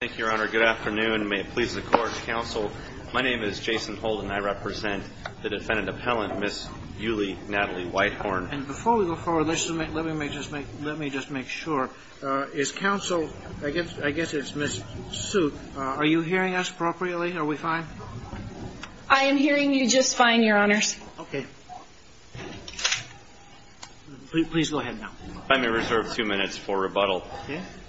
Thank you, Your Honor. Good afternoon. May it please the Court, Counsel. My name is Jason Holden. I represent the defendant appellant, Ms. Yulee Natalie Whitehorn. And before we go forward, let me just make sure. Is Counsel, I guess it's Ms. Soot, are you hearing us appropriately? Are we fine? I am hearing you just fine, Your Honors. Okay. Please go ahead now. If I may reserve two minutes for rebuttal.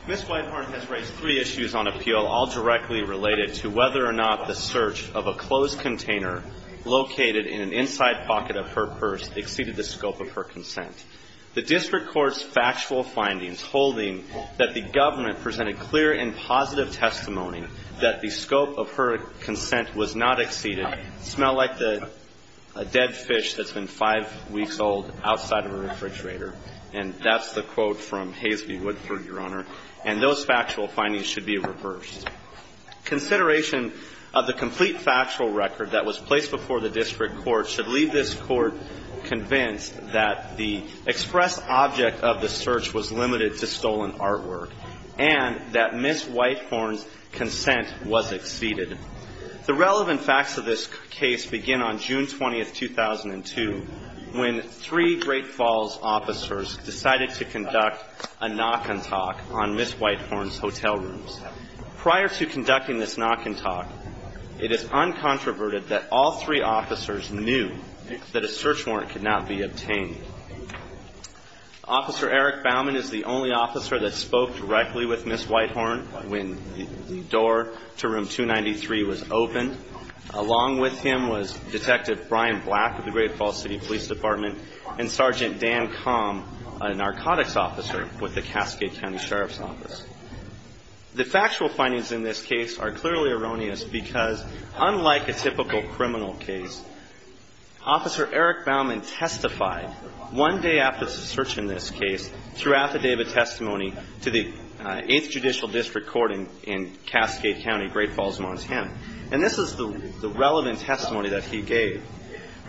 Ms. Whitehorn has raised three issues on appeal, all directly related to whether or not the search of a closed container located in an inside pocket of her purse exceeded the scope of her consent. The district court's factual findings holding that the government presented clear and positive testimony that the scope of her consent was not exceeded smell like a dead fish that's been five weeks old outside of a refrigerator. And that's the quote from Haseby Woodford, Your Honor. And those factual findings should be reversed. Consideration of the complete factual record that was placed before the district court should leave this court convinced that the express object of the search was limited to stolen artwork and that Ms. Whitehorn's consent was exceeded. The relevant facts of this case begin on June 20, 2002, when three Great Falls officers decided to conduct a knock and talk on Ms. Whitehorn's hotel rooms. Prior to conducting this knock and talk, it is uncontroverted that all three officers knew that a search warrant could not be obtained. Officer Eric Bauman is the only officer that spoke directly with Ms. Whitehorn when the door to room 293 was opened. Along with him was Detective Brian Black of the Great Falls City Police Department and Sergeant Dan Calm, a narcotics officer with the Cascade County Sheriff's Office. The factual findings in this case are clearly erroneous because, unlike a typical criminal case, Officer Eric Bauman testified one day after the search in this case through affidavit testimony to the 8th Judicial District Court in Cascade County, Great Falls, Montana. And this is the relevant testimony that he gave.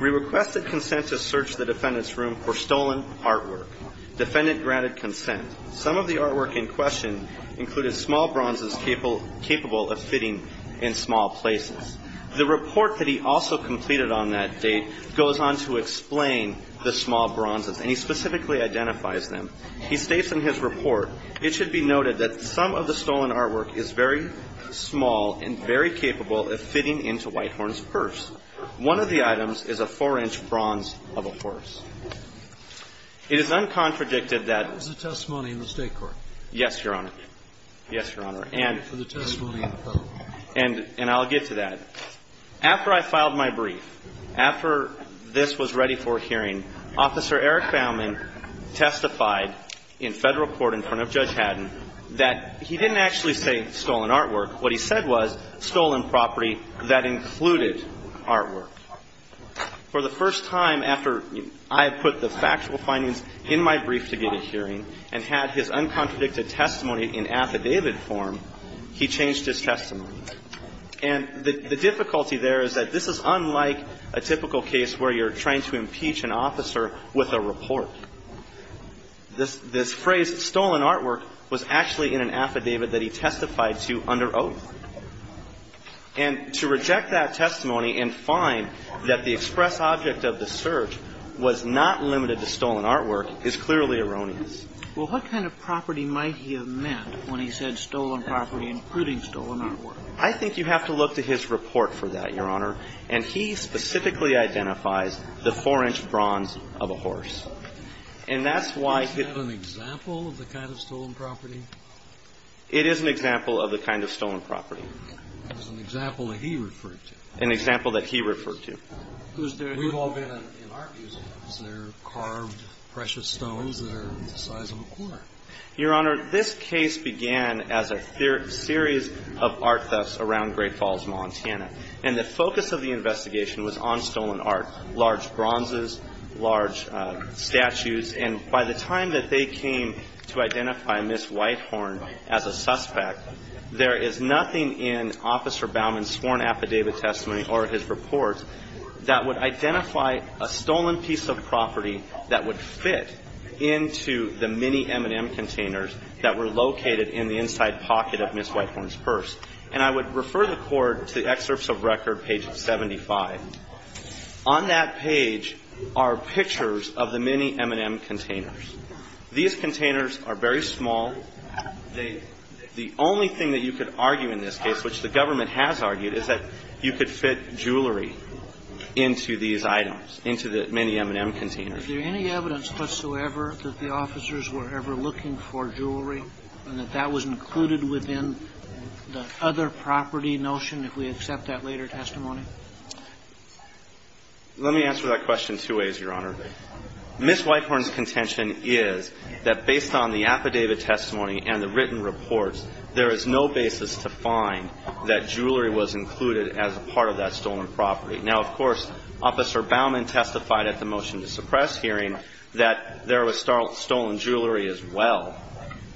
We request that consent to search the defendant's room for stolen artwork. Defendant granted consent. Some of the artwork in question included small bronzes capable of fitting in small places. The report that he also completed on that date goes on to explain the small bronzes, and he specifically identifies them. He states in his report, it should be noted that some of the stolen artwork is very small and very capable of fitting into Whitehorn's purse. One of the items is a 4-inch bronze of a horse. It is uncontradicted that the testimony in the State Court. Yes, Your Honor. Yes, Your Honor. And for the testimony in the federal court. And I'll get to that. After I filed my brief, after this was ready for hearing, Officer Eric Bauman testified in federal court in front of Judge Haddon that he didn't actually say stolen artwork. What he said was stolen property that included artwork. For the first time after I put the factual findings in my brief to get a hearing and had his uncontradicted testimony in affidavit form, he changed his testimony. And the difficulty there is that this is unlike a typical case where you're trying to impeach an officer with a report. This phrase, stolen artwork, was actually in an affidavit that he testified to under oath. And to reject that testimony and find that the express object of the search was not limited to stolen artwork is clearly erroneous. Well, what kind of property might he have meant when he said stolen property including stolen artwork? I think you have to look to his report for that, Your Honor. And he specifically identifies the 4-inch bronze of a horse. Is that an example of the kind of stolen property? It is an example of the kind of stolen property. It was an example that he referred to. An example that he referred to. We've all been in art museums. There are carved, precious stones that are the size of a corner. Your Honor, this case began as a series of art thefts around Great Falls, Montana. And the focus of the investigation was on stolen art. Large bronzes, large silverware. Statues. And by the time that they came to identify Ms. Whitehorn as a suspect, there is nothing in Officer Baumann's sworn affidavit testimony or his report that would identify a stolen piece of property that would fit into the mini M&M containers that were located in the inside pocket of Ms. Whitehorn's purse. And I would refer the Court to the excerpts of record, page 75. On that page are pictures of the mini M&M containers. These containers are very small. The only thing that you could argue in this case, which the government has argued, is that you could fit jewelry into these items, into the mini M&M containers. If there's any evidence whatsoever that the officers were ever looking for jewelry and that that was included within the other property notion, if we accept that later testimony? Let me answer that question two ways, Your Honor. Ms. Whitehorn's contention is that based on the affidavit testimony and the written reports, there is no basis to find that jewelry was included as a part of that stolen property. Now, of course, Officer Baumann testified at the Motion to Suppress hearing that there was stolen jewelry as well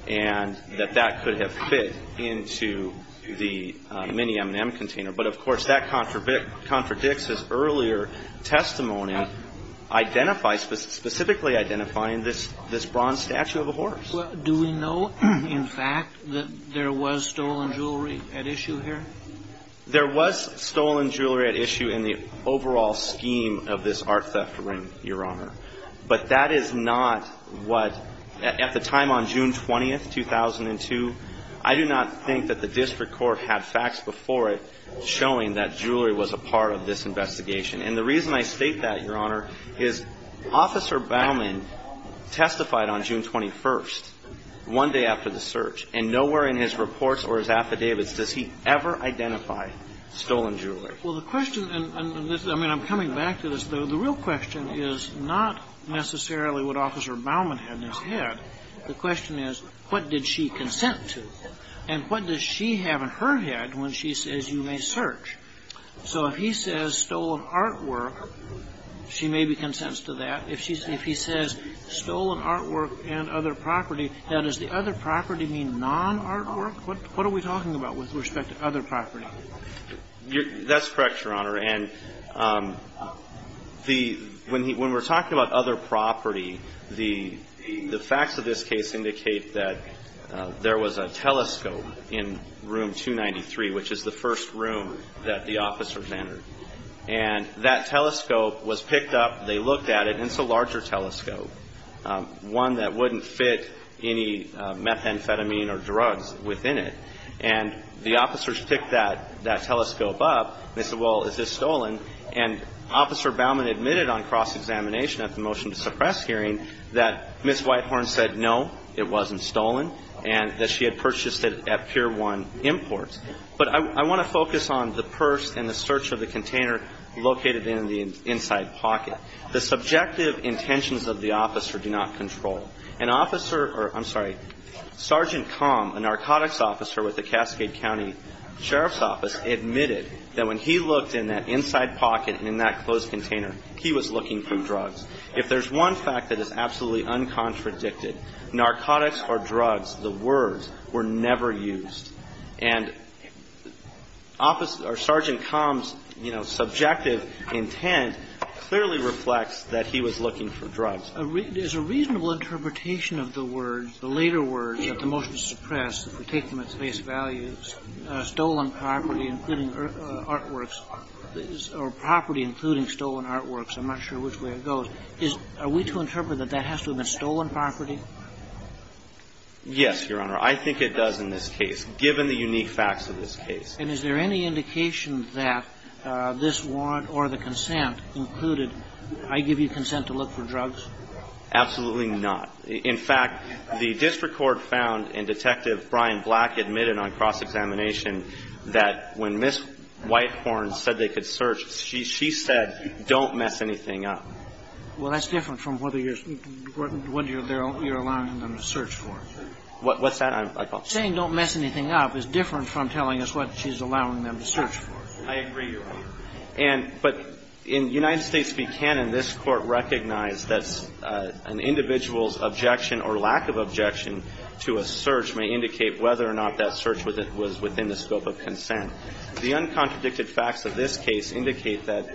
and that that could have fit into the mini M&M container. But, of course, that contradicts his earlier testimony, specifically identifying this bronze statue of a horse. Well, do we know, in fact, that there was stolen jewelry at issue here? There was stolen jewelry at issue in the overall scheme of this art theft ring, Your Honor. But that is not what, at the time on June 20th, 2002, I do not think that the district court had facts before it showing that jewelry was a part of this investigation. And the reason I state that, Your Honor, is Officer Baumann testified on June 21st, one day after the search, and nowhere in his reports or his affidavits does he ever identify stolen jewelry. Well, the question, and I mean, I'm coming back to this. The real question is not necessarily what Officer Baumann had in his head. The question is, what did she consent to? And what does she have in her head when she says you may search? So if he says stolen artwork, she may be consents to that. If he says stolen artwork and other property, now, does the other property mean non-artwork? What are we talking about with respect to other property? That's correct, Your Honor. And when we're talking about other property, the facts of this case indicate that there was a telescope in room 293, which is the first room that the officers entered. And that telescope was picked up, they looked at it, and it's a larger telescope, one that wouldn't fit any methamphetamine or drugs within it. And the officers picked that telescope up. They said, well, is this stolen? And Officer Baumann admitted on cross-examination at the motion to suppress hearing that Ms. Whitehorn said no, it wasn't stolen, and that she had purchased it at Pier 1 Imports. But I want to focus on the purse and the search of the container located in the inside pocket. The subjective intentions of the officer do not control. An officer or, I'm sorry, Sergeant Com, a narcotics officer with the Cascade County Sheriff's Office, admitted that when he looked in that inside pocket and in that closed container, he was looking for drugs. If there's one fact that is absolutely uncontradicted, narcotics or drugs, the words, were never used. And Sergeant Com's, you know, subjective intent clearly reflects that he was looking for drugs. There's a reasonable interpretation of the words, the later words, that the motion to suppress, if we take them at face value, stolen property including artworks, or property including stolen artworks. I'm not sure which way it goes. Are we to interpret that that has to have been stolen property? Yes, Your Honor. I think it does in this case, given the unique facts of this case. And is there any indication that this warrant or the consent included, I give you consent to look for drugs? Absolutely not. In fact, the district court found in Detective Brian Black admitted on cross-examination that when Ms. Whitehorn said they could search, she said, don't mess anything up. Well, that's different from whether you're allowing them to search for it. What's that? Saying don't mess anything up is different from telling us what she's allowing them to search for. I agree, Your Honor. But in United States v. Cannon, this Court recognized that an individual's objection or lack of objection to a search may indicate whether or not that search was within the scope of consent. The uncontradicted facts of this case indicate that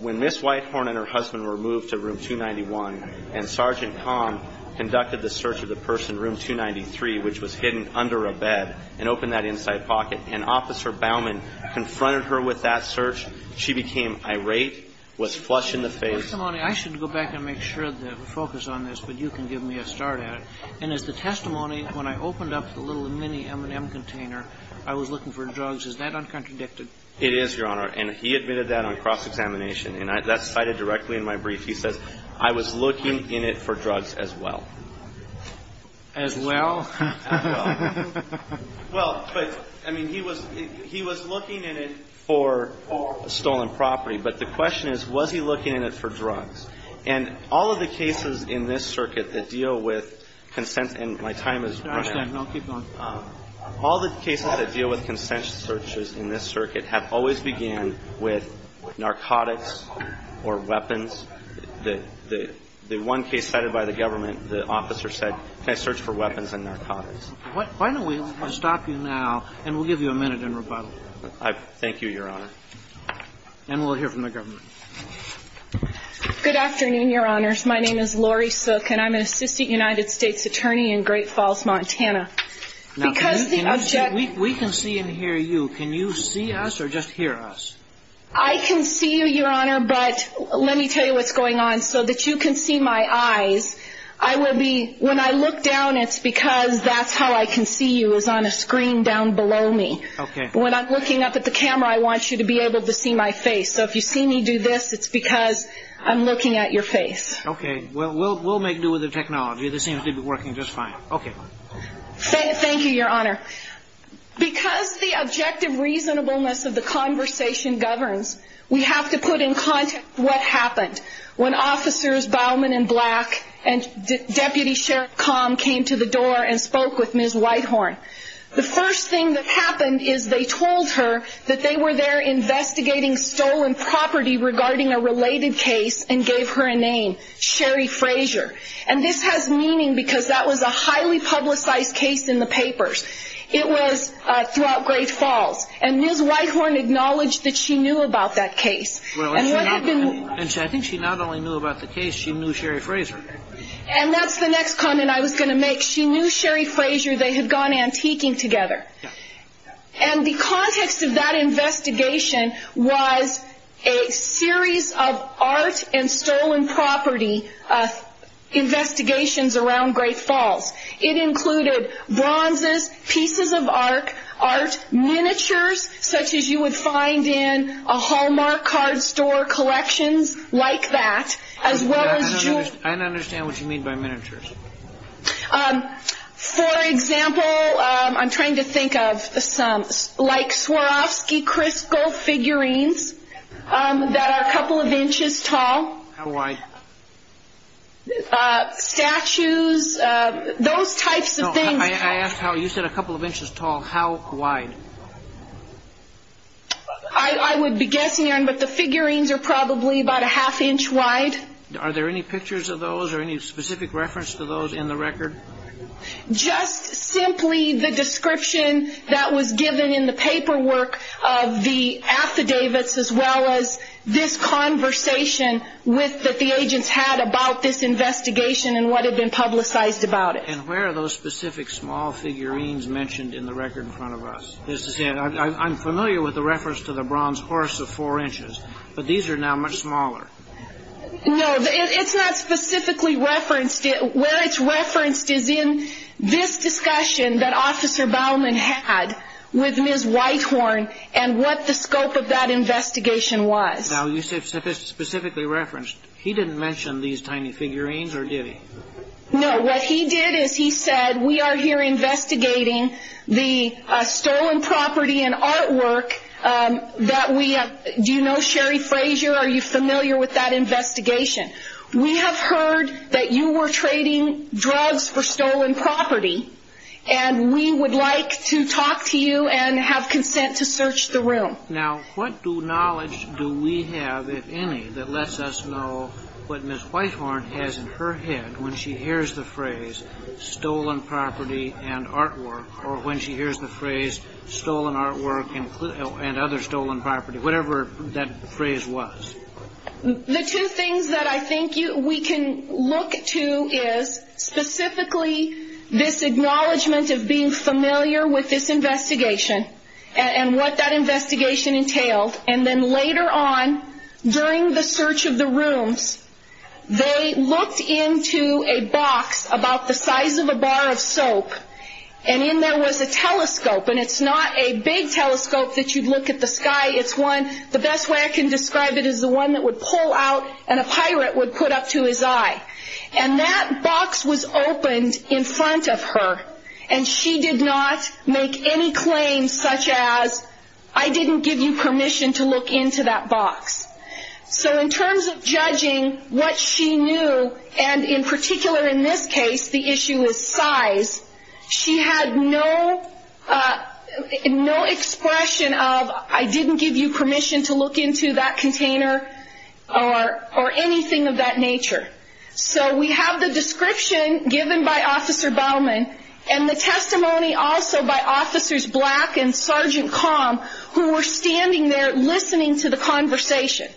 when Ms. Whitehorn and her husband were moved to Room 291 and Sergeant Kahn conducted the search of the person in Room 293, which was hidden under a bed, and opened that inside pocket, and Officer Baumann confronted her with that search, she became irate, was flush in the face. I should go back and make sure to focus on this, but you can give me a start at it. And as the testimony, when I opened up the little mini M&M container, I was looking for drugs. Is that uncontradicted? It is, Your Honor. And he admitted that on cross-examination. And that's cited directly in my brief. He says, I was looking in it for drugs as well. As well? As well. Well, but, I mean, he was looking in it for stolen property. But the question is, was he looking in it for drugs? And all of the cases in this circuit that deal with consent, and my time is running out. No, keep going. All the cases that deal with consent searches in this circuit have always began with narcotics or weapons. The one case cited by the government, the officer said, can I search for weapons and narcotics? Why don't we stop you now, and we'll give you a minute in rebuttal. Thank you, Your Honor. And we'll hear from the government. Good afternoon, Your Honors. My name is Lori Sook, and I'm an assistant United States attorney in Great Falls, Montana. Now, we can see and hear you. Can you see us or just hear us? I can see you, Your Honor, but let me tell you what's going on so that you can see my eyes. I will be, when I look down, it's because that's how I can see you, is on a screen down below me. Okay. When I'm looking up at the camera, I want you to be able to see my face. So if you see me do this, it's because I'm looking at your face. Okay. We'll make do with the technology. This seems to be working just fine. Okay. Thank you, Your Honor. Because the objective reasonableness of the conversation governs, we have to put in context what happened when officers Bauman and Black and Deputy Sheriff Calm came to the door and spoke with Ms. Whitehorn. The first thing that happened is they told her that they were there investigating stolen property regarding a related case and gave her a name, Sherry Frazier. And this has meaning because that was a highly publicized case in the papers. It was throughout Great Falls. And Ms. Whitehorn acknowledged that she knew about that case. And what had been – I think she not only knew about the case, she knew Sherry Frazier. And that's the next comment I was going to make. She knew Sherry Frazier. They had gone antiquing together. And the context of that investigation was a series of art and stolen property investigations around Great Falls. It included bronzes, pieces of art, miniatures such as you would find in a Hallmark card store collections like that, as well as jewels. I don't understand what you mean by miniatures. For example, I'm trying to think of some – like Swarovski crystal figurines that are a couple of inches tall. How wide? Statues, those types of things. No, I asked how – you said a couple of inches tall. How wide? I would be guessing, Aaron, but the figurines are probably about a half inch wide. Are there any pictures of those or any specific reference to those in the record? Just simply the description that was given in the paperwork of the affidavits as well as this conversation with – that the agents had about this investigation and what had been publicized about it. And where are those specific small figurines mentioned in the record in front of us? I'm familiar with the reference to the bronze horse of four inches, but these are now much smaller. No, it's not specifically referenced. Where it's referenced is in this discussion that Officer Baumann had with Ms. Whitehorn and what the scope of that investigation was. Now, you said specifically referenced. He didn't mention these tiny figurines or did he? No, what he did is he said, we are here investigating the stolen property and artwork that we – do you know Sherry Frazier? Are you familiar with that investigation? We have heard that you were trading drugs for stolen property, and we would like to talk to you and have consent to search the room. Now, what new knowledge do we have, if any, that lets us know what Ms. Whitehorn has in her head when she hears the phrase stolen artwork and other stolen property, whatever that phrase was? The two things that I think we can look to is specifically this acknowledgement of being familiar with this investigation and what that investigation entailed. And then later on, during the search of the rooms, they looked into a box about the size of a bar of soap, and in there was a telescope, and it's not a big telescope that you'd look at the sky. It's one – the best way I can describe it is the one that would pull out and a pirate would put up to his eye. And that box was opened in front of her, and she did not make any claims such as, I didn't give you permission to look into that box. So in terms of judging what she knew, and in particular in this case, the issue is size, she had no expression of, I didn't give you permission to look into that container or anything of that nature. So we have the description given by Officer Bauman and the testimony also by Officers Black and Sergeant Calm, who were standing there listening to the conversation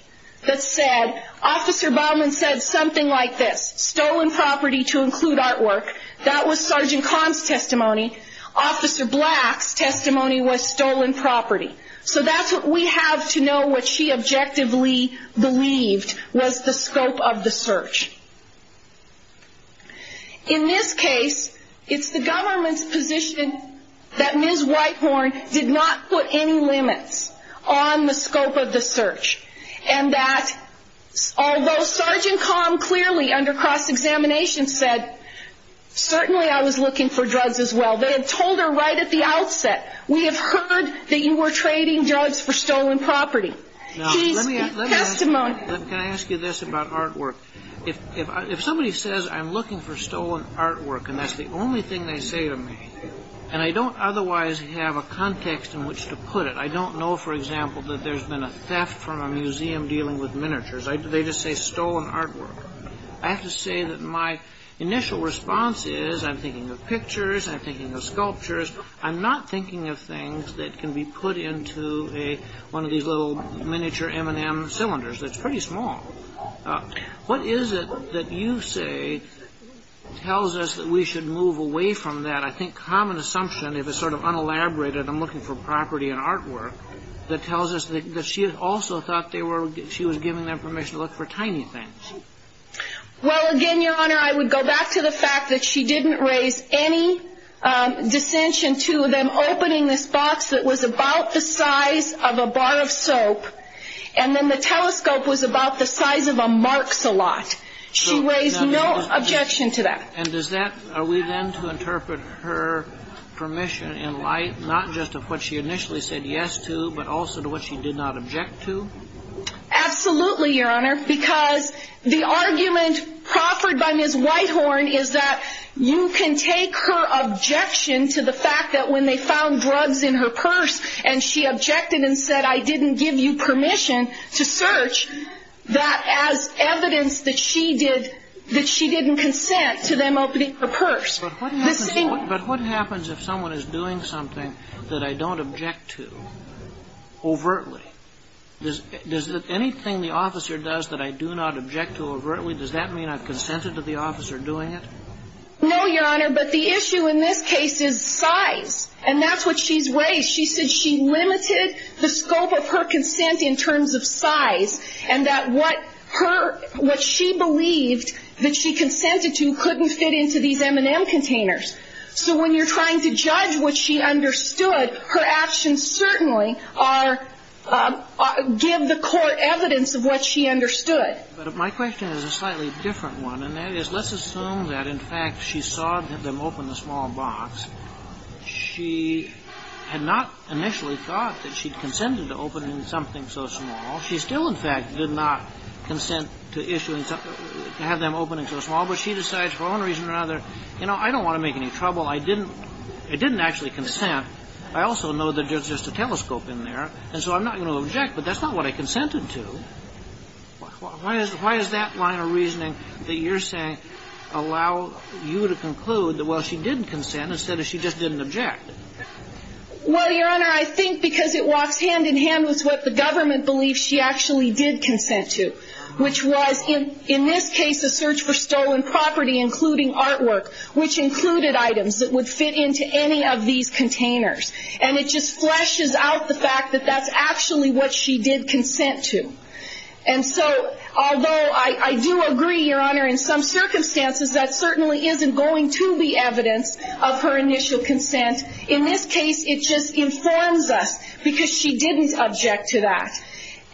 that said, Officer Bauman said something like this, stolen property to include artwork. That was Sergeant Calm's testimony. Officer Black's testimony was stolen property. So that's what we have to know what she objectively believed was the scope of the search. In this case, it's the government's position that Ms. Whitehorn did not put any limits on the scope of the search, and that although Sergeant Calm clearly under cross-examination said, certainly I was looking for drugs as well, they had told her right at the outset, we have heard that you were trading drugs for stolen property. Can I ask you this about artwork? If somebody says, I'm looking for stolen artwork, and that's the only thing they say to me, and I don't otherwise have a context in which to put it, I don't know, for example, that there's been a theft from a museum dealing with miniatures, they just say stolen artwork. I have to say that my initial response is, I'm thinking of pictures, I'm thinking of sculptures, I'm not thinking of things that can be put into one of these little miniature M&M cylinders that's pretty small. What is it that you say tells us that we should move away from that, I think, common assumption, if it's sort of unelaborated, I'm looking for property and artwork, that tells us that she also thought she was giving them permission to look for tiny things? Well, again, Your Honor, I would go back to the fact that she didn't raise any dissension to them opening this box that was about the size of a bar of soap, and then the telescope was about the size of a marks-a-lot. She raised no objection to that. And does that, are we then to interpret her permission in light, not just of what she initially said yes to, but also to what she did not object to? Absolutely, Your Honor, because the argument proffered by Ms. Whitehorn is that you can take her objection to the fact that when they found drugs in her purse and she objected and said, I didn't give you permission to search, that as evidence that she didn't consent to them opening her purse. But what happens if someone is doing something that I don't object to overtly? Does anything the officer does that I do not object to overtly, does that mean I've consented to the officer doing it? No, Your Honor, but the issue in this case is size, and that's what she's raised. She said she limited the scope of her consent in terms of size, and that what her, what she believed that she consented to couldn't fit into these M&M containers. So when you're trying to judge what she understood, her actions certainly are, give the court evidence of what she understood. But my question is a slightly different one, and that is, let's assume that in fact she saw them open the small box. She had not initially thought that she'd consented to opening something so small. She still, in fact, did not consent to issuing something, to have them open into a small box. She decides for one reason or another, you know, I don't want to make any trouble. I didn't actually consent. I also know that there's just a telescope in there, and so I'm not going to object, but that's not what I consented to. Why is that line of reasoning that you're saying allow you to conclude that, well, she didn't consent instead of she just didn't object? Well, Your Honor, I think because it walks hand in hand with what the government believes she actually did consent to, which was in this case a search for stolen property, including artwork, which included items that would fit into any of these containers. And it just fleshes out the fact that that's actually what she did consent to. And so although I do agree, Your Honor, in some circumstances, that certainly isn't going to be evidence of her initial consent, in this case it just informs us because she didn't object to that.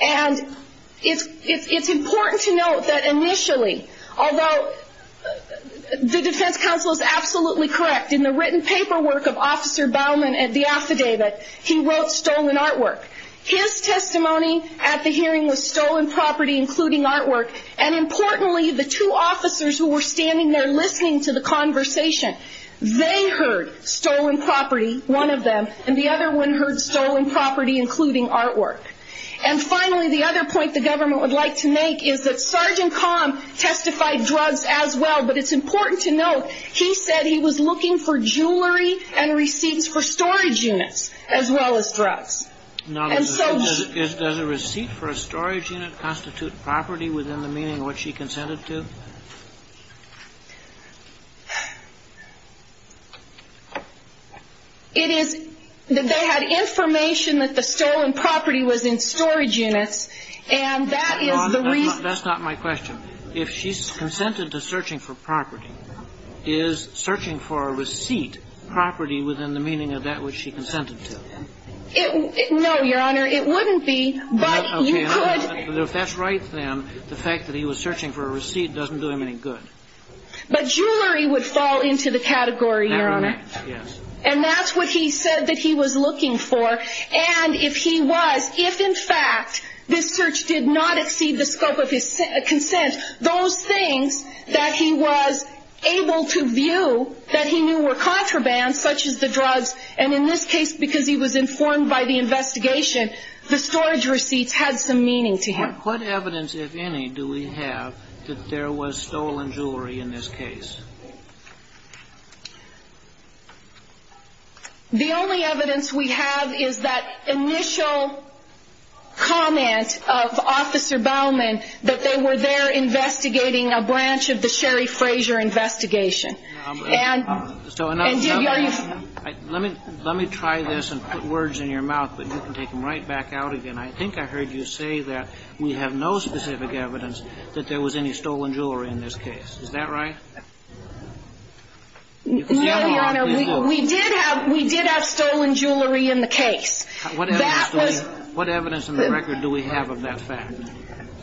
And it's important to note that initially, although the defense counsel is absolutely correct, in the written paperwork of Officer Baumann at the affidavit, he wrote stolen artwork. His testimony at the hearing was stolen property, including artwork, and importantly, the two officers who were standing there listening to the conversation, they heard stolen property, one of them, and the other one heard stolen property, including artwork. And finally, the other point the government would like to make is that Sergeant Kahn testified drugs as well, but it's important to note he said he was looking for jewelry and receipts for storage units as well as drugs. Does a receipt for a storage unit constitute property within the meaning of what she consented to? It is that they had information that the stolen property was in storage units, and that is the reason... Your Honor, that's not my question. If she's consented to searching for property, is searching for a receipt property within the meaning of that which she consented to? No, Your Honor, it wouldn't be, but you could... If that's right, then the fact that he was searching for a receipt doesn't do him any good. But jewelry would fall into the category, Your Honor. And that's what he said that he was looking for. And if he was, if in fact this search did not exceed the scope of his consent, those things that he was able to view that he knew were contraband, such as the drugs, and in this case because he was informed by the investigation, the storage receipts had some meaning to him. What evidence, if any, do we have that there was stolen jewelry in this case? The only evidence we have is that initial comment of Officer Bowman that they were there investigating a branch of the Sherry Frazier investigation. And... So, let me try this and put words in your mouth, but you can take them right back out again. I think I heard you say that we have no specific evidence that there was any stolen jewelry in this case. Is that right? No, Your Honor. We did have stolen jewelry in the case. What evidence in the record do we have of that fact?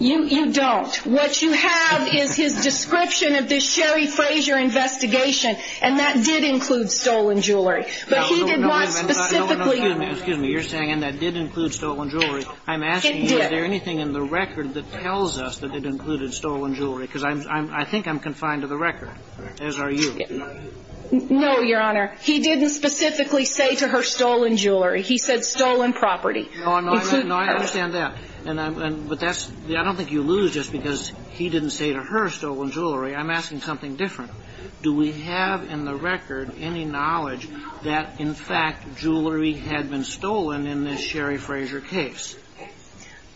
You don't. What you have is his description of the Sherry Frazier investigation, and that did include stolen jewelry. But he did not specifically... Excuse me. You're saying, and that did include stolen jewelry. It did. I'm asking you, is there anything in the record that tells us that it included stolen jewelry? Because I think I'm confined to the record, as are you. No, Your Honor. He didn't specifically say to her stolen jewelry. He said stolen property. No, I understand that. But that's... I don't think you lose just because he didn't say to her stolen jewelry. I'm asking something different. Do we have in the record any knowledge that, in fact, jewelry had been stolen in this Sherry Frazier case?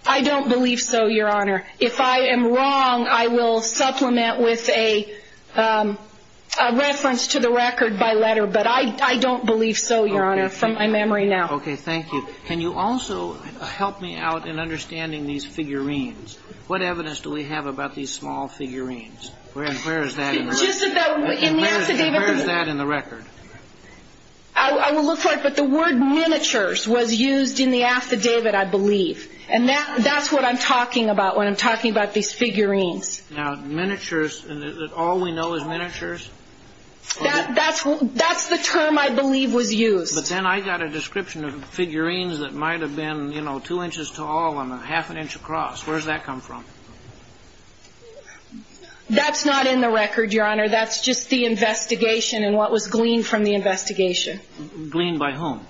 I don't believe so, Your Honor. If I am wrong, I will supplement with a reference to the record by letter. But I don't believe so, Your Honor, from my memory now. Okay. Thank you. Can you also help me out in understanding these figurines? What evidence do we have about these small figurines? Where is that in the record? In the affidavit... Where is that in the record? I will look for it. But the word miniatures was used in the affidavit, I believe. And that's what I'm talking about when I'm talking about these figurines. Now, miniatures, all we know is miniatures? That's the term I believe was used. But then I got a description of figurines that might have been, you know, two inches tall and a half an inch across. Where does that come from? That's not in the record, Your Honor. That's just the investigation and what was gleaned from the investigation. Gleaned by whom?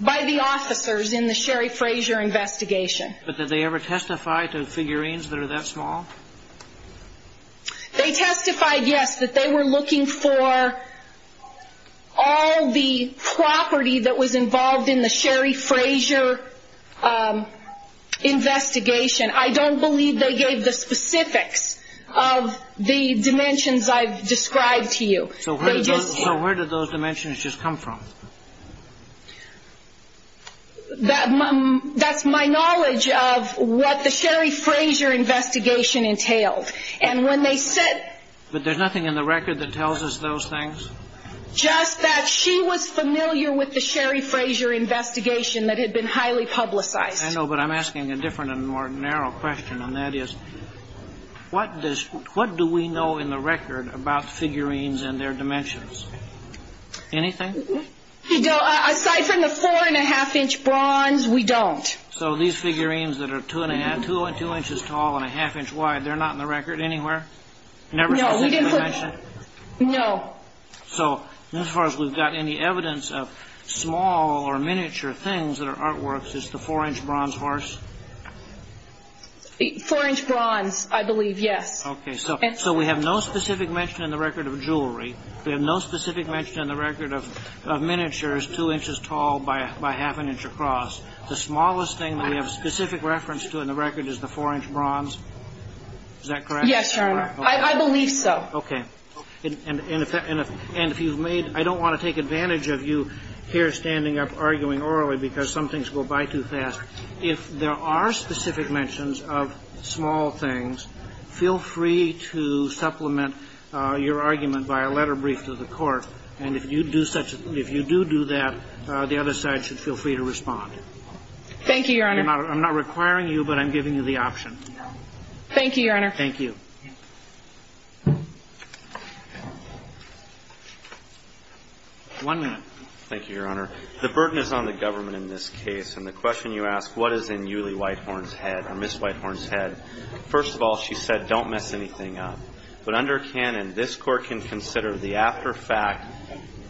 By the officers in the Sherry Frazier investigation. But did they ever testify to figurines that are that small? They testified, yes, that they were looking for all the property that was involved in the Sherry Frazier investigation. I don't believe they gave the specifics of the dimensions I've described to you. So where did those dimensions just come from? That's my knowledge of what the Sherry Frazier investigation entailed. And when they said – But there's nothing in the record that tells us those things? Just that she was familiar with the Sherry Frazier investigation that had been highly publicized. I know, but I'm asking a different and more narrow question, and that is what do we know in the record about figurines and their dimensions? Anything? Aside from the four and a half inch bronze, we don't. So these figurines that are two and a half, two inches tall and a half inch wide, they're not in the record anywhere? No, we didn't put – So as far as we've got any evidence of small or miniature things that are artworks, it's the four inch bronze horse? Four inch bronze, I believe, yes. Okay. So we have no specific mention in the record of jewelry. We have no specific mention in the record of miniatures two inches tall by half an inch across. The smallest thing we have specific reference to in the record is the four inch bronze. Is that correct? Yes, Your Honor. I believe so. Okay. And if you've made – I don't want to take advantage of you here standing up arguing orally because some things go by too fast. If there are specific mentions of small things, feel free to supplement your argument by a letter brief to the court. And if you do such – if you do do that, the other side should feel free to respond. Thank you, Your Honor. I'm not requiring you, but I'm giving you the option. Thank you, Your Honor. Thank you. One minute. Thank you, Your Honor. The burden is on the government in this case. And the question you asked, what is in Yulie Whitehorn's head or Ms. Whitehorn's head, first of all, she said, don't mess anything up. But under canon, this court can consider the after fact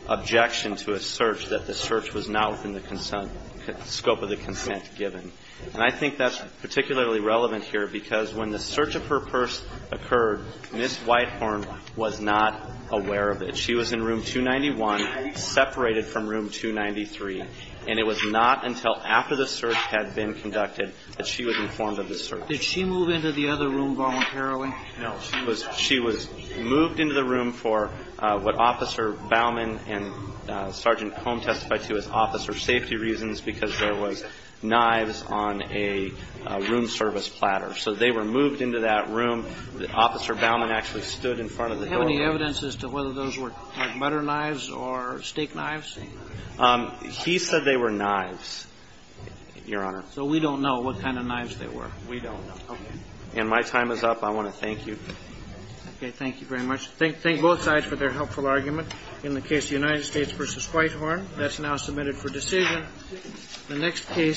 objection to a search that the search was not within the scope of the consent given. And I think that's particularly relevant here because when the search of her purse occurred, Ms. Whitehorn was not aware of it. She was in room 291, separated from room 293. And it was not until after the search had been conducted that she was informed of the search. Did she move into the other room voluntarily? No. She was moved into the room for what Officer Baumann and Sergeant Comb testified to as officer safety reasons because there was knives on a room service platter. So they were moved into that room. Officer Baumann actually stood in front of the door. Do you have any evidence as to whether those were butter knives or steak knives? He said they were knives, Your Honor. So we don't know what kind of knives they were? We don't know. Okay. And my time is up. I want to thank you. Okay. Thank you very much. Thank both sides for their helpful argument in the case of the United States v. Whitehorn. That's now submitted for decision. The next case is...